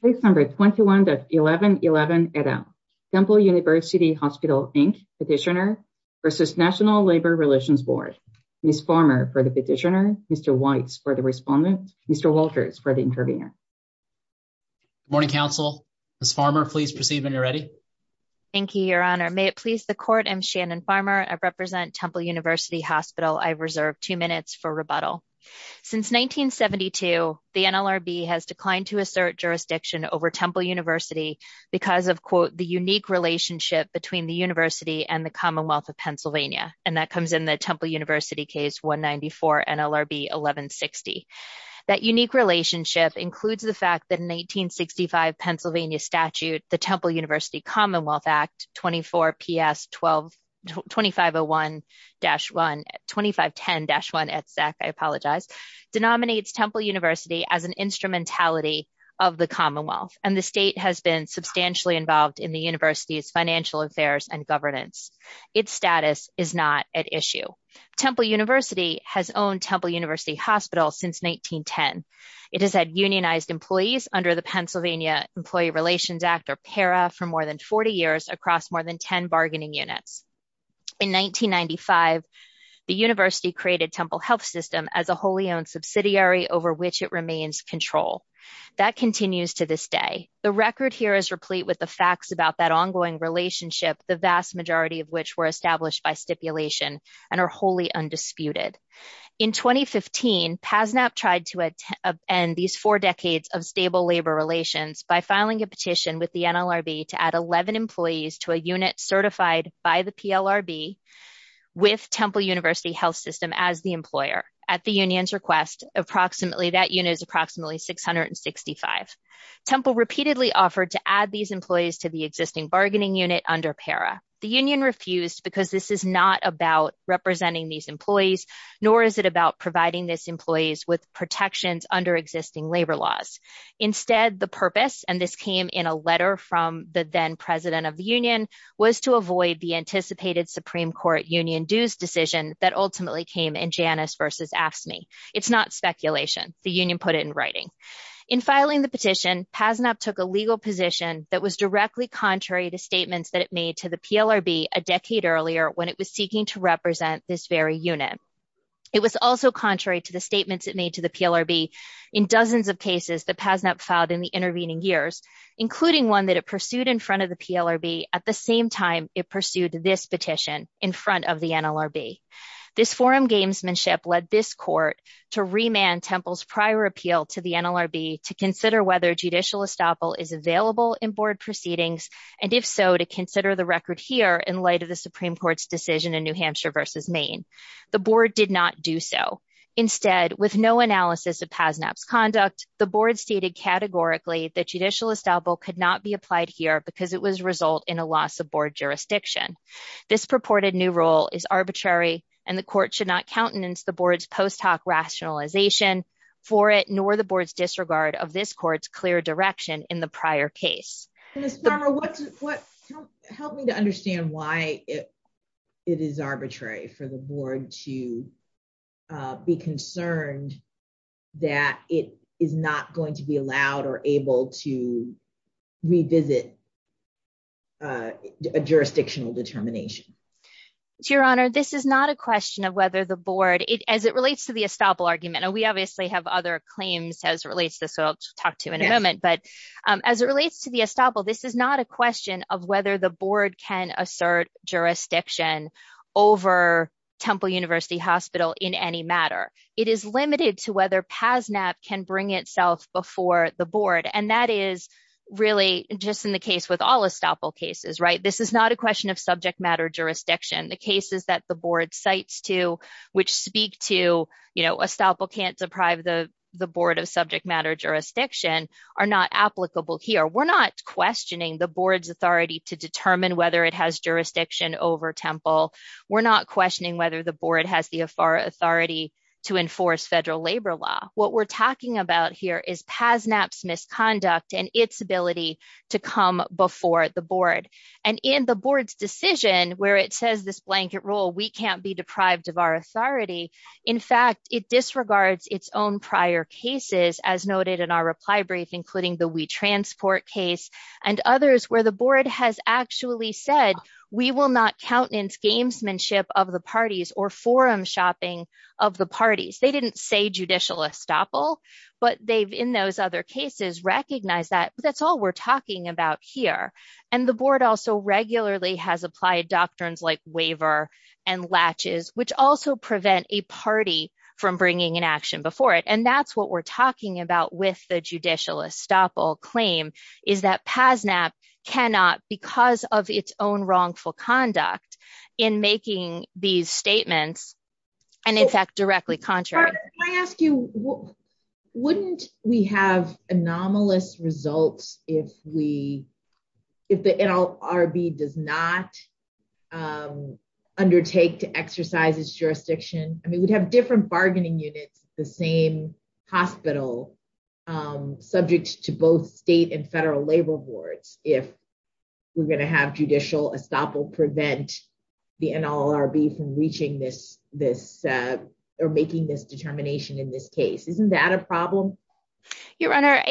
Place number 21.11.11 et al. Temple University Hospital, Inc. Petitioner versus National Labor Relations Board. Ms. Farmer for the petitioner, Mr. Weitz for the respondent, Mr. Walters for the intervener. Good morning, Council. Ms. Farmer, please proceed when you're ready. Thank you, Your Honor. May it please the Court, I'm Shannon Farmer. I represent Temple University Hospital. I've reserved two minutes for rebuttal. Since 1972, the NLRB has declined to assert jurisdiction over Temple University because of, quote, the unique relationship between the University and the Commonwealth of Pennsylvania. And that comes in the Temple University case 194 NLRB 1160. That unique relationship includes the fact that in 1965 Pennsylvania statute, the Temple University Commonwealth Act 24PS 2501-1, 2510-1 et sec, I apologize, denominates Temple University as an instrumentality of the Commonwealth, and the state has been substantially involved in the University's financial affairs and governance. Its status is not at issue. Temple University has owned Temple University Hospital since 1910. It has had unionized employees under the Pennsylvania Employee Relations Act, or PARA, for more than 40 years across more than 10 bargaining units. In 1995, the University created Temple Health System as a wholly owned subsidiary over which it remains control. That continues to this day. The record here is replete with the facts about that ongoing relationship, the vast majority of which were established by stipulation and are wholly undisputed. In 2015, PASNAP tried to end these four decades of stable labor relations by filing a petition with the NLRB to add 11 employees to a unit certified by the PLRB with Temple University Health System as the employer. At the union's request, that unit is approximately 665. Temple repeatedly offered to add these employees to the existing bargaining unit under PARA. The union refused because this is not about representing these employees, nor is it about providing these employees with protections under existing labor laws. Instead, the purpose, and this came in a letter from the then president of the union, was to avoid the anticipated Supreme Court union dues decision that ultimately came in Janus versus AFSCME. It's not speculation. The union put it in writing. In filing the petition, PASNAP took a legal position that was directly contrary to statements that it made to the PLRB a decade earlier when it was seeking to represent this very unit. It was also contrary to the statements it made to the PLRB in dozens of cases that PASNAP filed in the intervening years, including one that it pursued in front of the PLRB at the same time it pursued this petition in front of the NLRB. This forum gamesmanship led this court to remand Temple's prior appeal to the NLRB to consider whether judicial estoppel is available in board proceedings, and if so, to consider the record here in light of the Supreme Court's decision in New Hampshire versus Maine. The board did not do so. Instead, with no analysis of PASNAP's conduct, the board stated categorically that judicial estoppel could not be applied here because it was a result in a loss of board jurisdiction. This purported new rule is arbitrary and the court should not countenance the board's post hoc rationalization for it, nor the board's disregard of this court's clear direction in the prior case. Help me to understand why it is arbitrary for the board to be concerned that it is not going to be allowed or able to revisit a jurisdictional determination. Your Honor, this is not a question of whether the board, as it relates to the estoppel argument, and we obviously have other claims as it relates to this, so I'll talk to you in a moment, but as it relates to the estoppel, this is not a question of whether the board can assert jurisdiction over Temple University Hospital in any matter. It is limited to whether PASNAP can bring itself before the board, and that is really just in the case with all estoppel cases, right? It is not a question of subject matter jurisdiction. The cases that the board cites to which speak to estoppel can't deprive the board of subject matter jurisdiction are not applicable here. We're not questioning the board's authority to determine whether it has jurisdiction over Temple. We're not questioning whether the board has the authority to enforce federal labor law. What we're talking about here is PASNAP's misconduct and its ability to come before the board. The board's decision where it says this blanket rule, we can't be deprived of our authority, in fact, it disregards its own prior cases, as noted in our reply brief, including the We Transport case and others where the board has actually said, we will not countenance gamesmanship of the parties or forum shopping of the parties. They didn't say judicial estoppel, but they've, in those other cases, recognized that. That's all we're talking about here, and the board also regularly has applied doctrines like waiver and latches, which also prevent a party from bringing an action before it, and that's what we're talking about with the judicial estoppel claim, is that PASNAP cannot, because of its own wrongful conduct in making these statements, and in fact, directly contrary. Can I ask you, wouldn't we have anomalous results if we if the NLRB does not undertake to exercise its jurisdiction? I mean, we'd have different bargaining units, the same hospital, subject to both state and federal labor boards if we're going to have judicial estoppel prevent the NLRB from reaching this, this, or making this determination in this case. Isn't that a problem? Your Honor,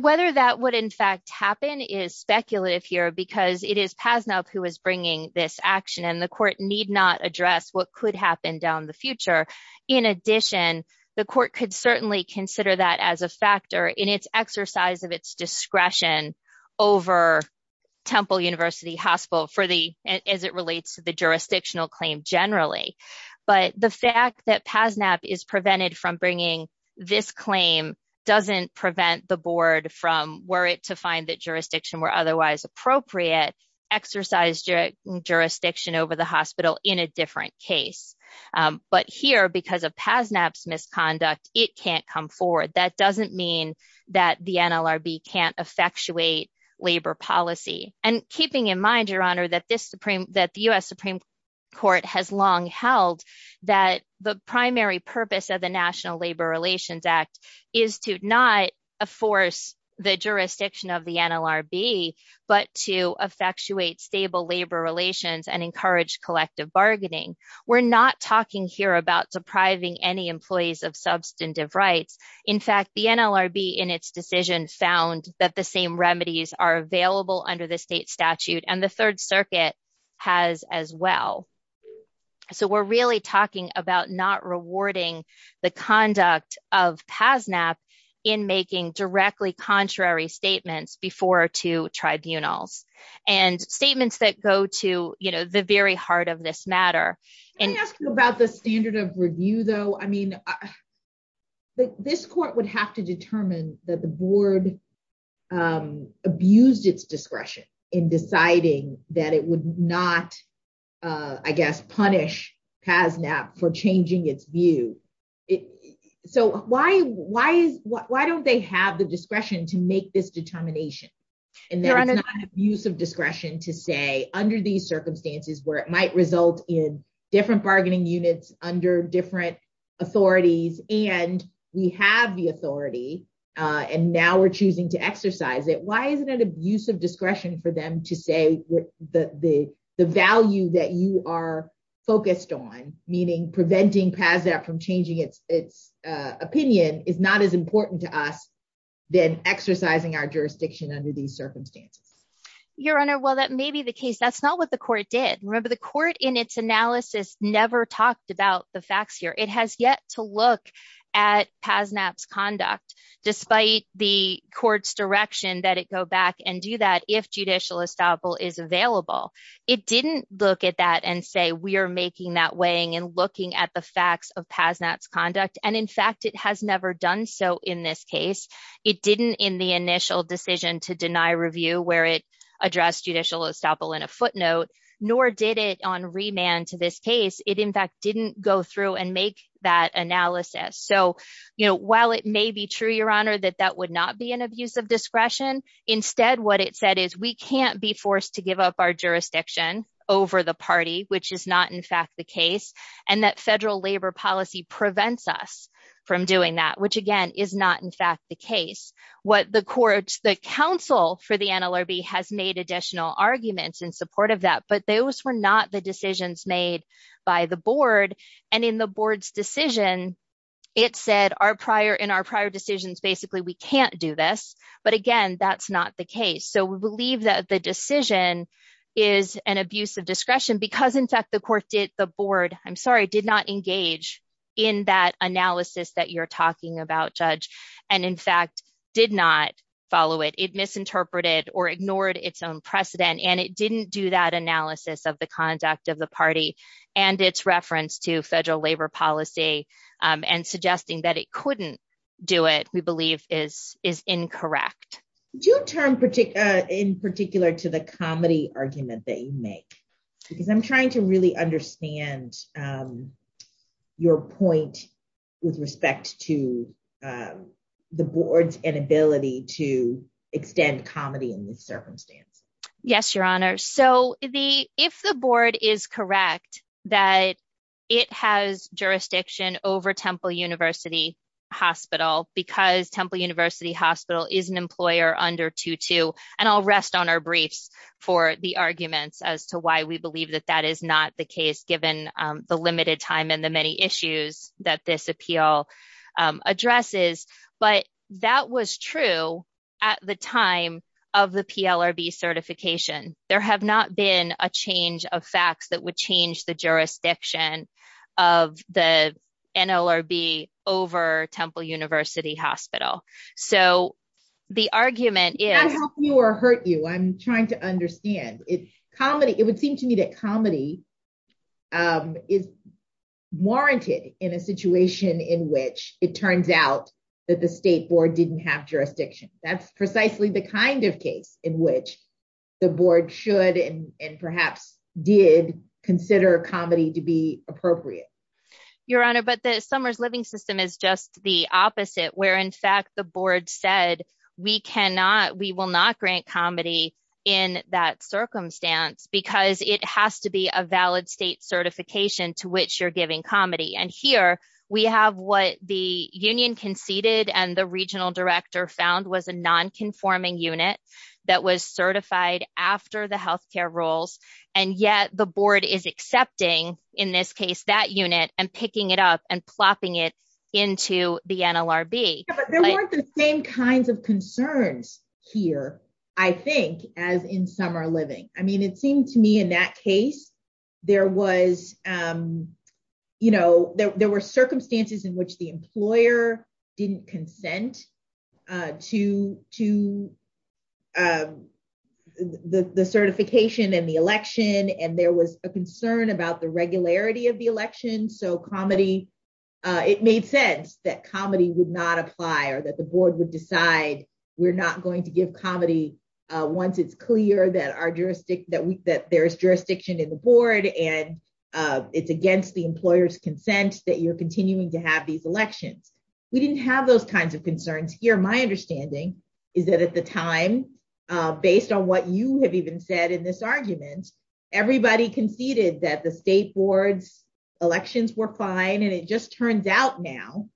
whether that would in fact happen is speculative here, because it is PASNAP who is bringing this action, and the court need not address what could happen down the future. In addition, the court could certainly consider that as a factor in its exercise of its discretion over Temple University Hospital for the, as it relates to the jurisdictional claim generally, but the fact that PASNAP is prevented from bringing this claim doesn't prevent the board from, were it to find that jurisdiction were otherwise appropriate, exercise jurisdiction over the hospital in a different case. But here, because of PASNAP's misconduct, it can't come forward. That doesn't mean that the NLRB can't effectuate labor policy. And keeping in mind, that this Supreme, that the US Supreme Court has long held that the primary purpose of the National Labor Relations Act is to not force the jurisdiction of the NLRB, but to effectuate stable labor relations and encourage collective bargaining. We're not talking here about depriving any employees of substantive rights. In fact, the NLRB in its decision found that the remedies are available under the state statute and the third circuit has as well. So we're really talking about not rewarding the conduct of PASNAP in making directly contrary statements before to tribunals and statements that go to the very heart of this matter. Can I ask you about the standard of review though? I mean, the, this court would have to determine that the board abused its discretion in deciding that it would not, I guess, punish PASNAP for changing its view. So why, why is, why don't they have the discretion to make this determination? And that it's not an abuse of discretion to say under these circumstances where it might result in different bargaining units under different authorities and we have the authority and now we're choosing to exercise it. Why isn't it an abuse of discretion for them to say the value that you are focused on, meaning preventing PASNAP from changing its opinion is not as important to us than exercising our jurisdiction under these circumstances? Your Honor, while that may be the case, that's not what the court did. Remember the court in its analysis never talked about the facts here. It has yet to look at PASNAP's conduct despite the court's direction that it go back and do that if judicial estoppel is available. It didn't look at that and say, we are making that weighing and looking at the facts of PASNAP's conduct. And in fact, it has never done so in this case. It didn't in the initial decision to deny review where it addressed judicial estoppel in a footnote, nor did it on remand to this case. It in fact didn't go through and make that analysis. So while it may be true, Your Honor, that that would not be an abuse of discretion. Instead, what it said is we can't be forced to give up our jurisdiction over the party, which is not in fact the case. And that federal labor policy prevents us from doing that, which again is not in fact the case. What the courts, the council for the NLRB has made additional arguments in support of that, but those were not the decisions made by the board. And in the board's decision, it said in our prior decisions, basically we can't do this. But again, that's not the case. So we believe that the decision is an abuse of discretion because in fact the court did, the board, I'm sorry, did not engage in that analysis that you're talking about, Judge, and in fact did not follow it. It misinterpreted or ignored its own precedent, and it didn't do that analysis of the conduct of the party and its reference to federal labor policy and suggesting that it couldn't do it, we believe is incorrect. Do you turn in particular to the comedy argument that you make? Because I'm trying to really understand your point with respect to the board's inability to extend comedy in this circumstance. Yes, Your Honor. So if the board is correct that it has jurisdiction over Temple University Hospital because Temple University Hospital is an employer under 2-2, and I'll rest on our briefs for the arguments as to why we believe that that is not the case, given the limited time and the many issues that this appeal addresses. But that was true at the time of the PLRB certification. There have not been a change of facts that would change the or hurt you. I'm trying to understand. It would seem to me that comedy is warranted in a situation in which it turns out that the state board didn't have jurisdiction. That's precisely the kind of case in which the board should and perhaps did consider comedy to be appropriate. Your Honor, but the summer's living system is just the opposite, where in fact the board said, we cannot, we will not grant comedy in that circumstance because it has to be a valid state certification to which you're giving comedy. And here we have what the union conceded and the regional director found was a non-conforming unit that was certified after the healthcare rules, and yet the board is accepting, in this case, that unit and picking it up and plopping it into the NLRB. There weren't the same kinds of concerns here, I think, as in summer living. I mean, it seemed to me in that case, there was, you know, there were circumstances in which the employer didn't consent to the certification and the election. And there was a concern about the that comedy would not apply or that the board would decide we're not going to give comedy once it's clear that there's jurisdiction in the board and it's against the employer's consent that you're continuing to have these elections. We didn't have those kinds of concerns here. My understanding is that at the time, based on what you have even said in this argument, everybody conceded that the state board's elections were fine, and it just turns out now,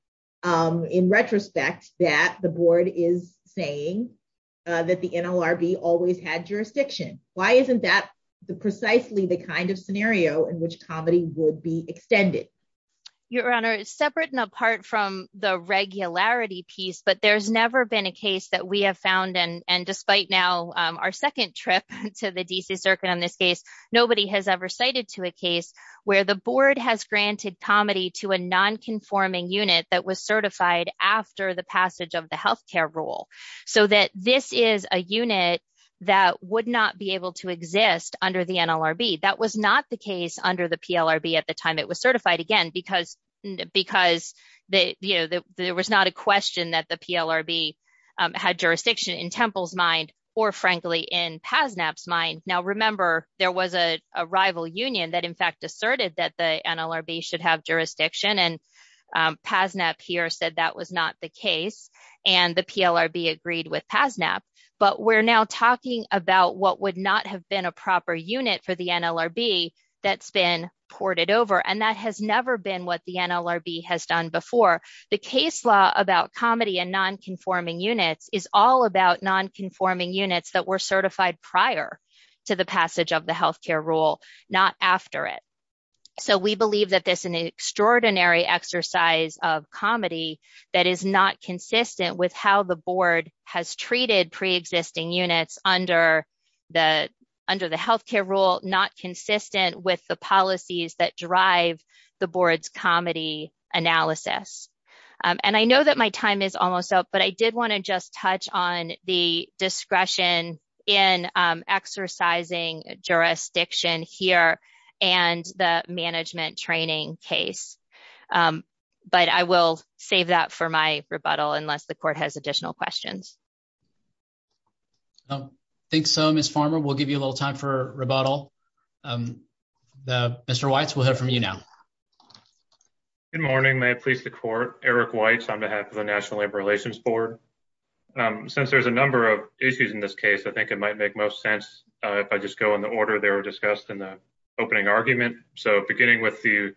in retrospect, that the board is saying that the NLRB always had jurisdiction. Why isn't that precisely the kind of scenario in which comedy would be extended? Your Honor, separate and apart from the regularity piece, but there's never been a case that we have found, and despite now our on this case, nobody has ever cited to a case where the board has granted comedy to a non-conforming unit that was certified after the passage of the health care rule, so that this is a unit that would not be able to exist under the NLRB. That was not the case under the PLRB at the time it was certified, again, because, you know, there was not a question that the PLRB had jurisdiction in Temple's mind or, frankly, in PASNAP's mind. Now, remember, there was a rival union that, in fact, asserted that the NLRB should have jurisdiction, and PASNAP here said that was not the case, and the PLRB agreed with PASNAP, but we're now talking about what would not have been a proper unit for the NLRB that's been ported over, and that has never been what the NLRB has done before. The case law about comedy and non-conforming units is all about non-conforming units that were certified prior to the passage of the health care rule, not after it, so we believe that there's an extraordinary exercise of comedy that is not consistent with how the board has treated pre-existing units under the health care rule, not consistent with the policies that drive the board's comedy analysis, and I know that my time is almost up, but I did want to just touch on the discretion in exercising jurisdiction here and the management training case, but I will save that for my rebuttal unless the court has additional questions. I think so, Ms. Farmer, we'll give you a little time for rebuttal. Mr. Weitz, we'll hear from you now. Good morning, may it please the court, Eric Weitz, on behalf of the National Labor Relations Board. Since there's a number of issues in this case, I think it might make most sense if I just go in the order they were discussed in the opening argument, so beginning with the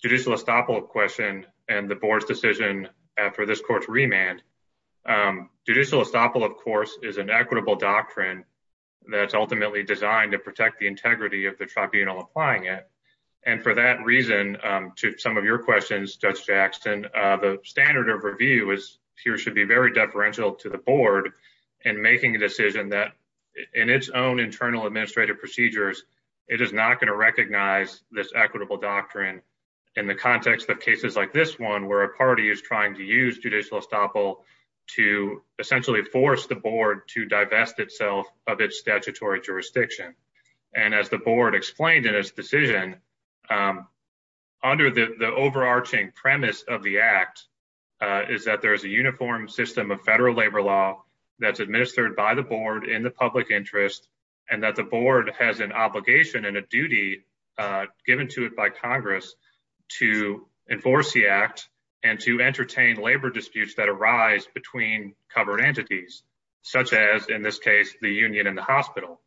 judicial estoppel question and the board's decision after this court's remand. Judicial estoppel, of course, is an equitable doctrine that's ultimately designed to protect the integrity of the tribunal applying it, and for that reason, to some of your questions, Judge Jackson, the standard of review here should be very deferential to the board in making a decision that in its own internal administrative procedures, it is not going to recognize this equitable doctrine in the context of cases like this one where a party is trying to use judicial estoppel to essentially force the board to divest itself of its statutory jurisdiction, and as the board explained in its decision, under the overarching premise of the act is that there's a in the public interest and that the board has an obligation and a duty given to it by Congress to enforce the act and to entertain labor disputes that arise between covered entities, such as, in this case, the union and the hospital,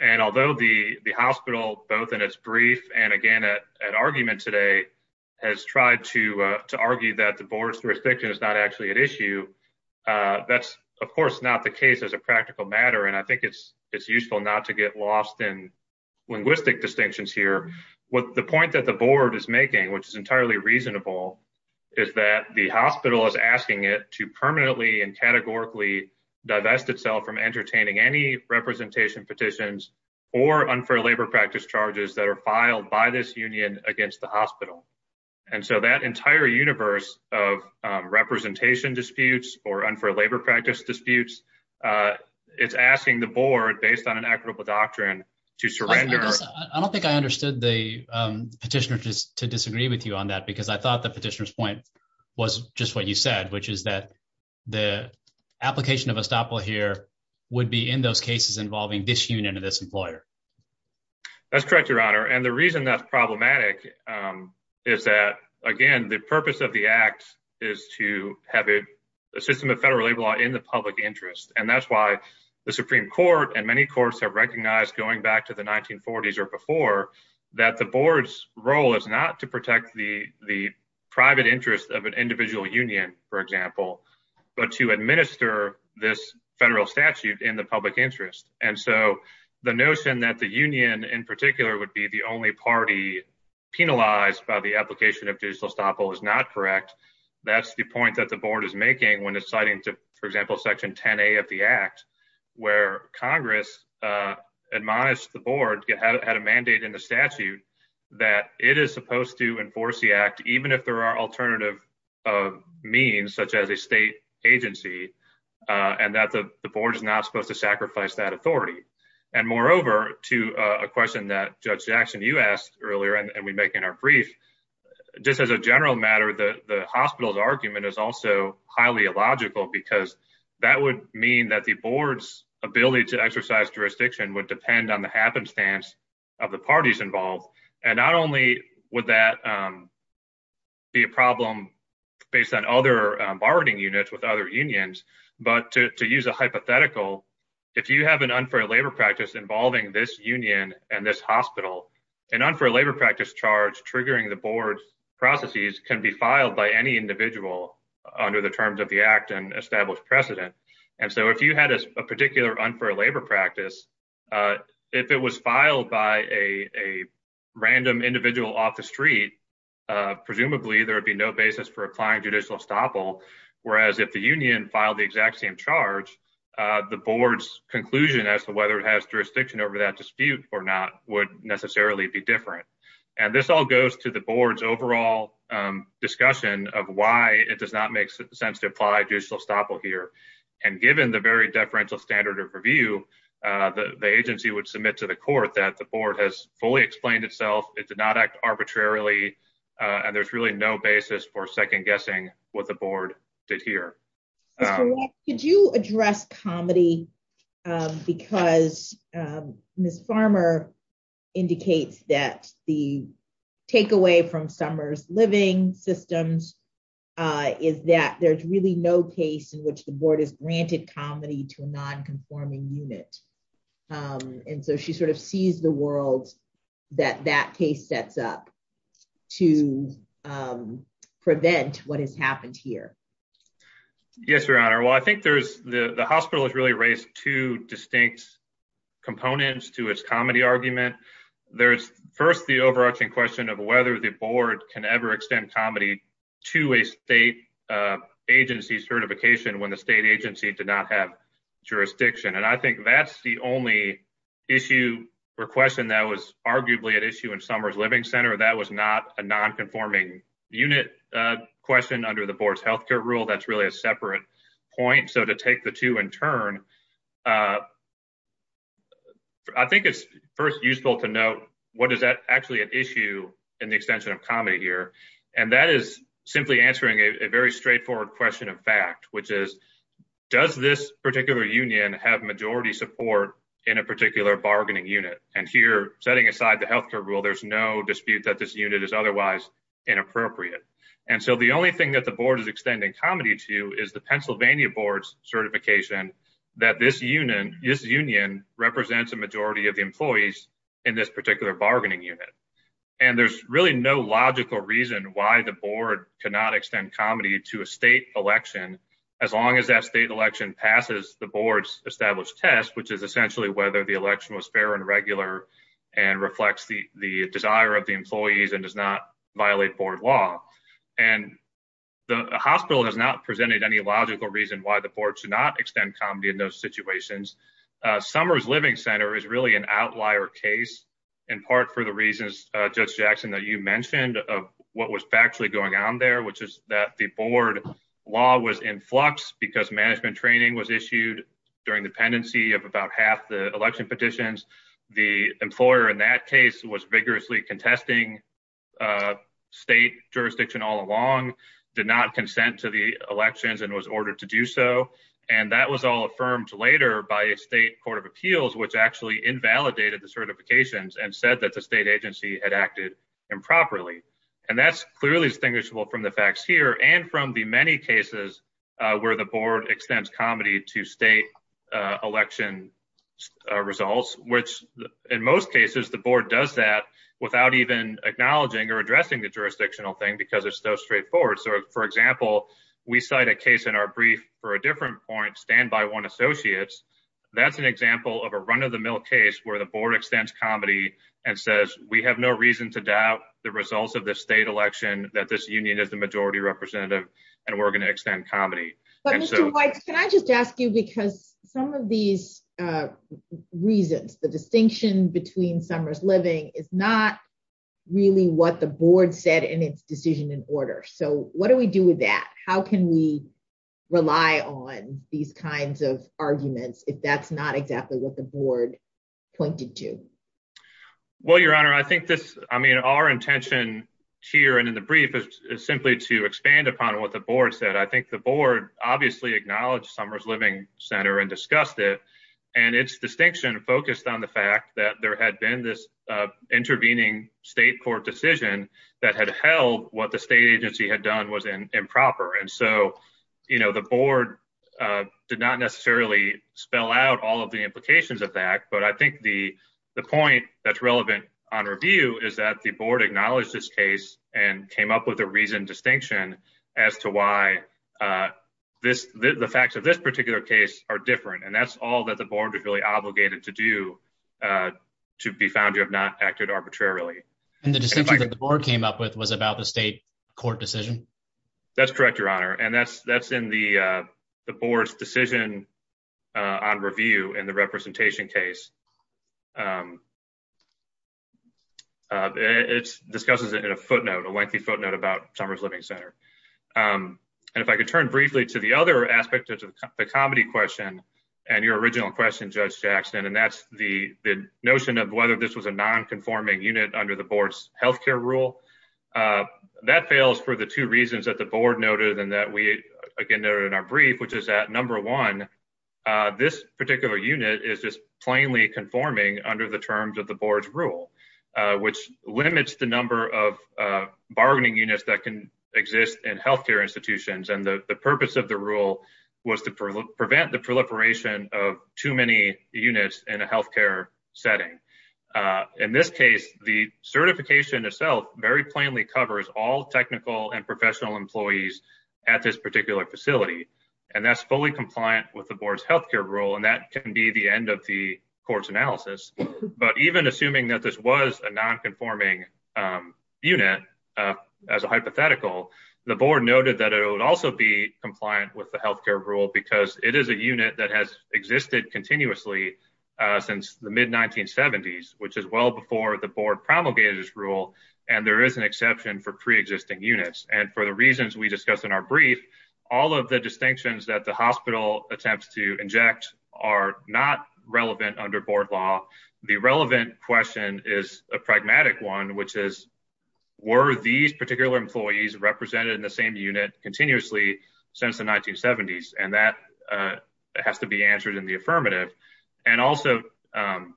and although the hospital, both in its brief and, again, at argument today, has tried to argue that the board's jurisdiction is not actually at issue, that's, of course, not the case as a practical matter, and I think it's useful not to get lost in linguistic distinctions here. The point that the board is making, which is entirely reasonable, is that the hospital is asking it to permanently and categorically divest itself from entertaining any representation petitions or unfair labor practice charges that are filed by this union against the hospital, and so that entire universe of representation disputes or unfair labor practice disputes, it's asking the board, based on an equitable doctrine, to surrender. I don't think I understood the petitioner just to disagree with you on that because I thought the petitioner's point was just what you said, which is that the application of estoppel here would be in those cases involving this union of this employer. That's correct, your honor, and the reason that's is that, again, the purpose of the act is to have a system of federal labor law in the public interest, and that's why the Supreme Court and many courts have recognized, going back to the 1940s or before, that the board's role is not to protect the private interest of an individual union, for example, but to administer this federal statute in the public interest, and so the notion that the union in particular would be the only party penalized by the application of digital estoppel is not correct. That's the point that the board is making when it's citing to, for example, section 10a of the act, where congress admonished the board, had a mandate in the statute that it is supposed to enforce the act even if there are alternative means, such as a state agency, and that the board is not supposed to sacrifice that authority, and moreover, to a question that Judge Jackson, you asked earlier, and we make in our brief, just as a general matter, the hospital's argument is also highly illogical, because that would mean that the board's ability to exercise jurisdiction would depend on the happenstance of the parties involved, and not only would that be a problem based on other bargaining units with other unions, but to use a hypothetical, if you have an unfair labor practice involving this union and this hospital, an unfair labor practice charge triggering the board's processes can be filed by any individual under the terms of the act and established precedent, and so if you had a particular unfair labor practice, if it was filed by a random individual off the street, presumably there would be no basis for applying judicial estoppel, whereas if the union filed the exact same charge, the board's conclusion as to whether it has jurisdiction over that dispute or not would necessarily be different, and this all goes to the board's overall discussion of why it does not make sense to apply judicial estoppel here, and given the very deferential standard of review, the agency would submit to the court that the board has fully explained itself, it did not act arbitrarily, and there's really no basis for second-guessing what the board did here. Could you address comedy, because Ms. Farmer indicates that the takeaway from Summers Living Systems is that there's really no case in which the board has granted comedy to a non-conforming unit, and so she sort of sees the world that that case sets up to prevent what has happened here. Yes, Your Honor, well I think there's, the hospital has really raised two distinct components to its comedy argument, there's first the overarching question of whether the board can ever extend comedy to a state agency certification when the state agency did not have jurisdiction, and I think that's the only issue or question that was arguably at issue in Summers Living Center, that was not a non-conforming unit question under the board's health care rule, that's really a separate point, so to take the two in turn, I think it's first useful to note what is that actually an issue in the extension of comedy here, and that is simply answering a very straightforward question of fact, which is does this particular union have majority support in a particular bargaining unit, and here setting aside the health care rule there's no dispute that this unit is otherwise inappropriate, and so the only thing that the board is extending comedy to is the Pennsylvania board's certification that this union represents a majority of the employees in this particular bargaining unit, and there's really no logical reason why the board cannot extend comedy to a state election as long as that state election passes the board's established test, which is essentially whether the election was fair and regular and reflects the the desire of the employees and does not violate board law, and the hospital has not presented any logical reason why the board should not extend comedy in those situations, Summers Living Center is really an outlier case in part for the reasons Judge Jackson that you mentioned of what was factually going on there, which is that the board law was in flux because management training was issued during the pendency of about half the election petitions. The employer in that case was vigorously contesting state jurisdiction all along, did not consent to the elections, and was ordered to do so, and that was all affirmed later by a state court of appeals, which actually invalidated the facts here and from the many cases where the board extends comedy to state election results, which in most cases the board does that without even acknowledging or addressing the jurisdictional thing because it's so straightforward. So for example, we cite a case in our brief for a different point, Stand By One Associates, that's an example of a run-of-the-mill case where the board extends comedy and says we have no reason to doubt the results of this state election that this union is the majority representative and we're going to extend comedy. But Mr. Weitz, can I just ask you because some of these reasons, the distinction between Summers Living is not really what the board said in its decision in order. So what do we do with that? How can we rely on these kinds of arguments if that's not exactly what the board pointed to? Well, Your Honor, I think this, I mean, our intention here and in the brief is simply to expand upon what the board said. I think the board obviously acknowledged Summers Living Center and discussed it, and its distinction focused on the fact that there had been this intervening state court decision that had held what the state agency had done was improper. And so, you know, the board did not necessarily spell out all of the implications of that. But I think the point that's relevant on review is that the board acknowledged this case and came up with a reason distinction as to why the facts of this particular case are different. And that's all that the board is really obligated to do to be found to have not acted arbitrarily. And the distinction that the board came up with was about the state court decision? That's correct, Your Honor. And that's in the board's decision on review in the representation case. It discusses it in a footnote, a lengthy footnote about Summers Living Center. And if I could turn briefly to the other aspect of the comedy question and your original question, Judge Jackson, and that's the notion of whether this was a nonconforming unit under the board's health care rule. That fails for the two we again noted in our brief, which is that number one, this particular unit is just plainly conforming under the terms of the board's rule, which limits the number of bargaining units that can exist in health care institutions. And the purpose of the rule was to prevent the proliferation of too many units in a health care setting. In this case, the certification itself very technical and professional employees at this particular facility, and that's fully compliant with the board's health care rule. And that can be the end of the court's analysis. But even assuming that this was a nonconforming unit as a hypothetical, the board noted that it would also be compliant with the health care rule because it is a unit that has existed continuously since the mid 1970s, which is well before the board promulgated this rule. And there is an exception for pre-existing units. And for the reasons we discussed in our brief, all of the distinctions that the hospital attempts to inject are not relevant under board law. The relevant question is a pragmatic one, which is, were these particular employees represented in the same unit continuously since the 1970s? And that has to be answered in the affirmative. And also, um,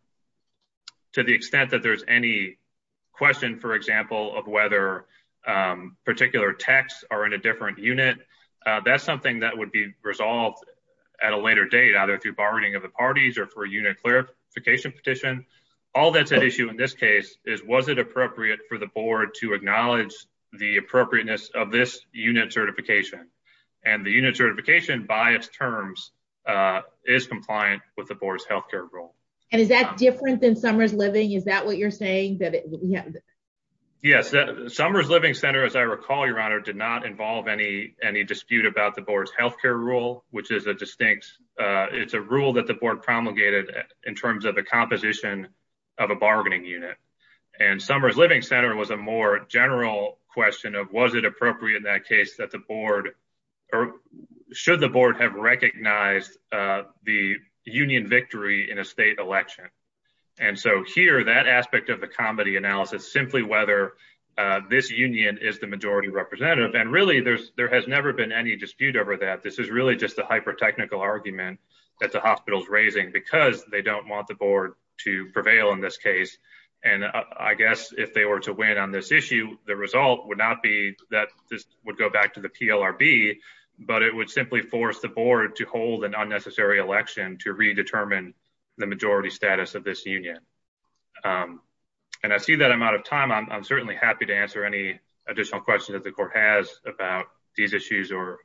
to the extent that there's any question, for example, of whether, um, particular texts are in a different unit, uh, that's something that would be resolved at a later date, either through bargaining of the parties or for a unit clarification petition. All that's at issue in this case is, was it appropriate for the board to acknowledge the appropriateness of this unit certification and the unit certification by its terms, uh, is compliant with the board's health care rule. And is that different than summer's living? Is that what you're saying? Yes. Summer's living center, as I recall, your honor did not involve any, any dispute about the board's health care rule, which is a distinct, uh, it's a rule that the board promulgated in terms of the composition of a bargaining unit. And summer's living center was a more general question of, was it appropriate in that case that the board or should the board have recognized, uh, the union victory in a state election? And so here, that aspect of the comedy analysis, simply whether, uh, this union is the majority representative. And really there's, there has never been any dispute over that. This is really just a hyper technical argument that the hospital's raising because they don't want the board to prevail in this case. And I guess if they were to win on this issue, the result would not be that this would go back to the PLRB, but it would simply force the board to hold an unnecessary election to redetermine the majority status of this union. Um, and I see that I'm out of time. I'm certainly happy to answer any additional questions that the court has about these issues or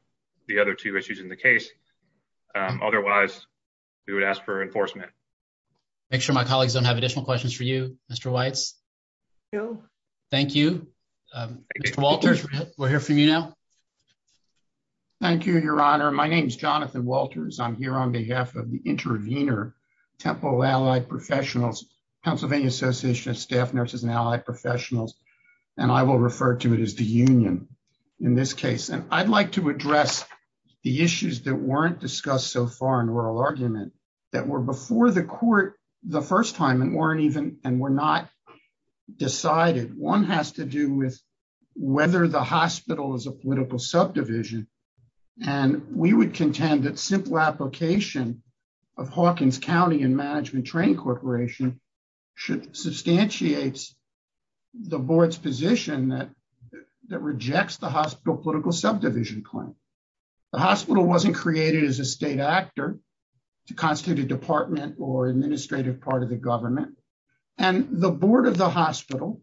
the other two issues in the case. Um, otherwise we would ask for enforcement, make sure my colleagues don't have additional questions for you, Mr. Weitz. Thank you. Mr. Walters, we'll hear from you now. Thank you, Your Honor. My name is Jonathan Walters. I'm here on behalf of the intervener Temple Allied Professionals, Pennsylvania Association of Staff Nurses and Allied Professionals. And I will refer to it as the union in this case. And I'd like to address the issues that weren't discussed so far in oral argument that were before the court the first time and weren't even and were not decided. One has to do with whether the hospital is a political subdivision. And we would contend that simple application of Hawkins County and Management Training Corporation should substantiate the board's position that that rejects the hospital political subdivision claim. The hospital wasn't created as a state actor to constitute a department or administrative part of the government. And the board of the hospital,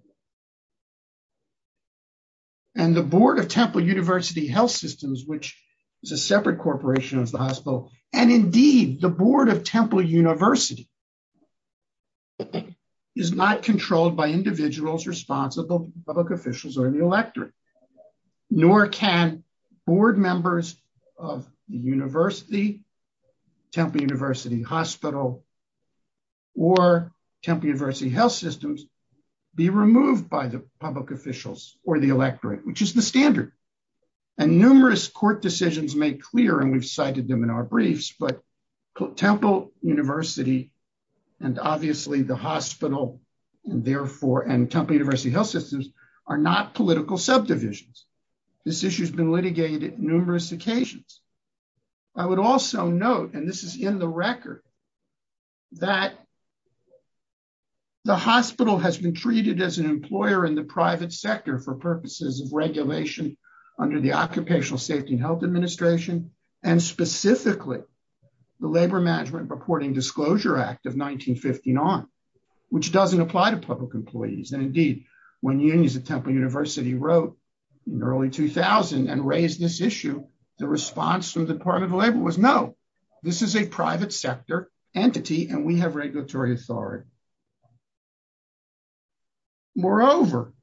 and the board of Temple University Health Systems, which is a separate corporation of the hospital, and indeed the board of Temple University is not controlled by individuals responsible, public officials or the electorate. Nor can board members of the university, Temple University Hospital, or Temple University Health Systems be removed by the public officials or the electorate, which is the standard. And numerous court decisions make clear, and we've cited them in our briefs, but Temple University, and obviously the hospital, and therefore, and Temple University Health Systems are not political subdivisions. This issue has been litigated numerous occasions. I would also note, and this is in the record, that the hospital has been treated as an employer in the private sector for purposes of regulation under the Occupational Safety and Health Administration, and specifically the Labor Management Reporting Disclosure Act of 1959, which doesn't apply to public employees. And indeed, when unions at Temple University wrote in early 2000 and raised this issue, the response from the Department of Labor was, no, this is a private sector entity and we have regulatory authority. Moreover,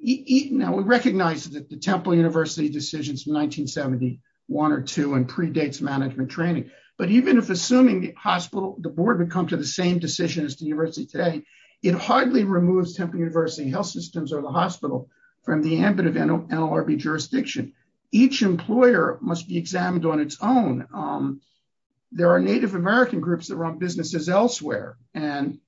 now we recognize that the Temple University decisions in 1971 or 2 and predates management training, but even if assuming the hospital, the board would come to the same decision as the university today, it hardly removes Temple University Health Systems or the hospital from the ambit of NLRB jurisdiction. Each employer must be examined on its own. There are Native American groups that run businesses elsewhere, and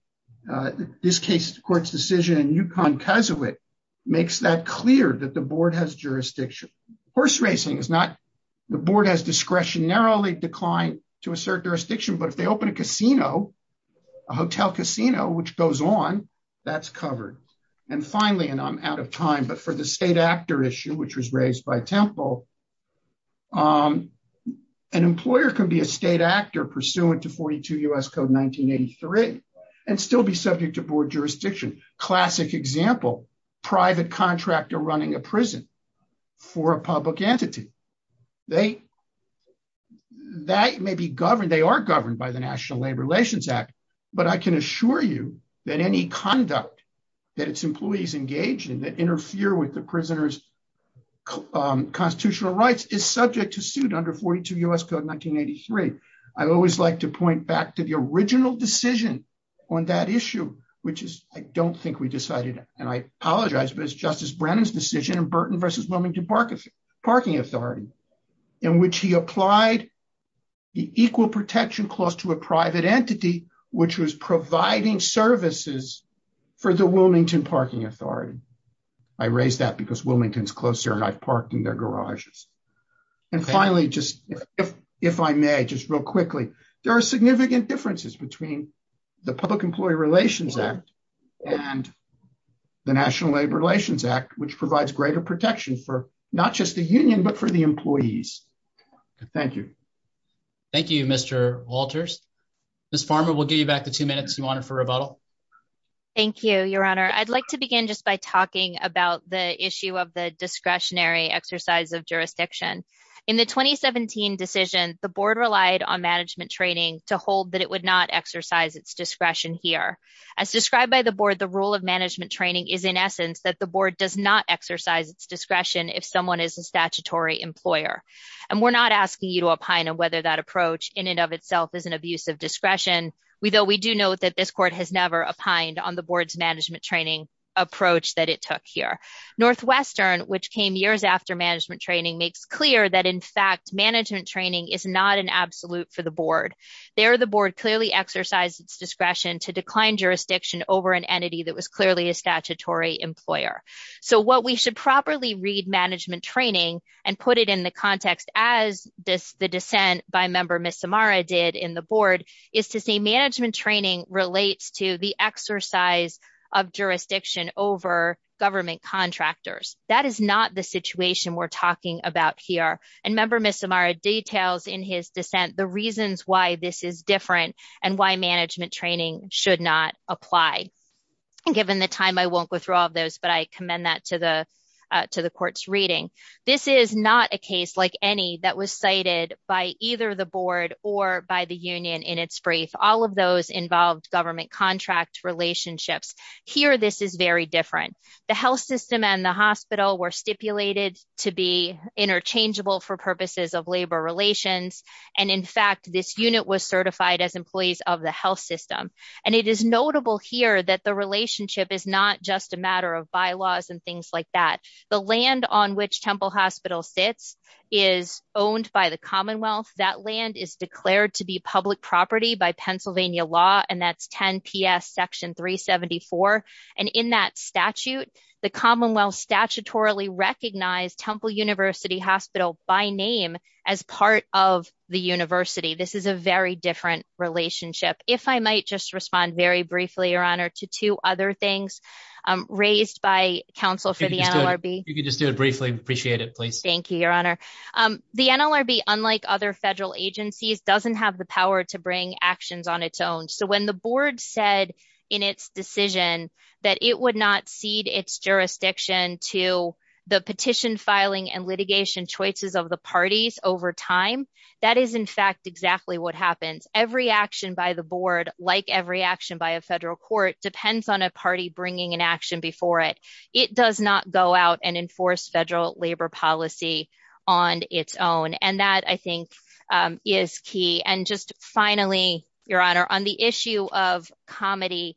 this court's decision in Yukon-Keswick makes that clear that the board has jurisdiction. Horse racing is not, the board has discretionarily declined to assert jurisdiction, but if they open a casino, hotel casino, which goes on, that's covered. And finally, and I'm out of time, but for the state actor issue, which was raised by Temple, an employer can be a state actor pursuant to 42 U.S. Code 1983 and still be subject to board jurisdiction. Classic example, private contractor running a prison for a public entity. They, that may be governed, they are governed by the National Labor Relations Act, but I can assure you that any conduct that its employees engage in that interfere with the prisoner's constitutional rights is subject to suit under 42 U.S. Code 1983. I always like to point back to the original decision on that issue, which is, I don't think we decided, and I apologize, but it's Justice Brennan's decision in Burton v. Wilmington Parking Authority, in which he applied the equal protection clause to a private entity, which was providing services for the Wilmington Parking Authority. I raise that because Wilmington is closer and I've parked in their garages. And finally, just if I may, just real quickly, there are significant differences between the Public Employee Relations Act and the National Labor Relations Act, which provides greater protection for not just the union, but for the employees. Thank you. Thank you, Mr. Walters. Ms. Farmer, we'll give you back the two minutes you wanted for rebuttal. Thank you, Your Honor. I'd like to begin just by talking about the issue of the discretionary exercise of jurisdiction. In the 2017 decision, the board relied on management training to hold that it would not exercise its discretion here. As described by the board, the rule of management training is in essence that the board does not exercise its discretion if someone is a statutory employer. And we're not asking you to opine on whether that approach in and of itself is an abuse of discretion, though we do note that this court has never opined on the board's management training approach that it took here. Northwestern, which came years after management training, makes clear that, in fact, management training is not an absolute for the board. There, the board clearly exercised its discretion to decline jurisdiction over an entity that was clearly a statutory employer. So what we should properly read management training and put it in the context as the dissent by Member Misamara did in the board is to say management training relates to the exercise of jurisdiction over government contractors. That is not the situation we're talking about here. And Member Misamara details in his dissent the reasons why this is different and why management training should not apply. Given the time, I won't go through all of those, but I commend that to the court's reading. This is not a case like any that was cited by either the board or by the union in its brief. All of those involved government contract relationships. Here, this is very different. The health system and the hospital were stipulated to be interchangeable for purposes of labor relations. And, in fact, this unit was certified as employees of the health system. And it is notable here that the relationship is not just a matter of bylaws and things like that. The land on which Temple Hospital sits is owned by the Commonwealth. That land is declared to be public property by statutorily recognized Temple University Hospital by name as part of the university. This is a very different relationship. If I might just respond very briefly, Your Honor, to two other things raised by counsel for the NLRB. You can just do it briefly. Appreciate it, please. Thank you, Your Honor. The NLRB, unlike other federal agencies, doesn't have the power to bring to the petition filing and litigation choices of the parties over time. That is, in fact, exactly what happens. Every action by the board, like every action by a federal court, depends on a party bringing an action before it. It does not go out and enforce federal labor policy on its own. And that, I think, is key. And just finally, Your Honor, on the issue of comedy,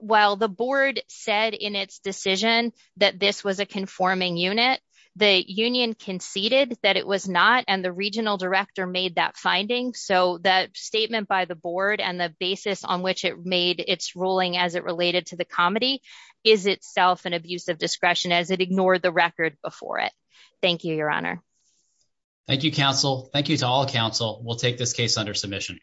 while the board said in its decision that this was a conforming unit, the union conceded that it was not, and the regional director made that finding. So that statement by the board and the basis on which it made its ruling as it related to the comedy is itself an abuse of discretion as it ignored the record before it. Thank you, Your Honor. Thank you, counsel. Thank you to all counsel. We'll take this case under submission.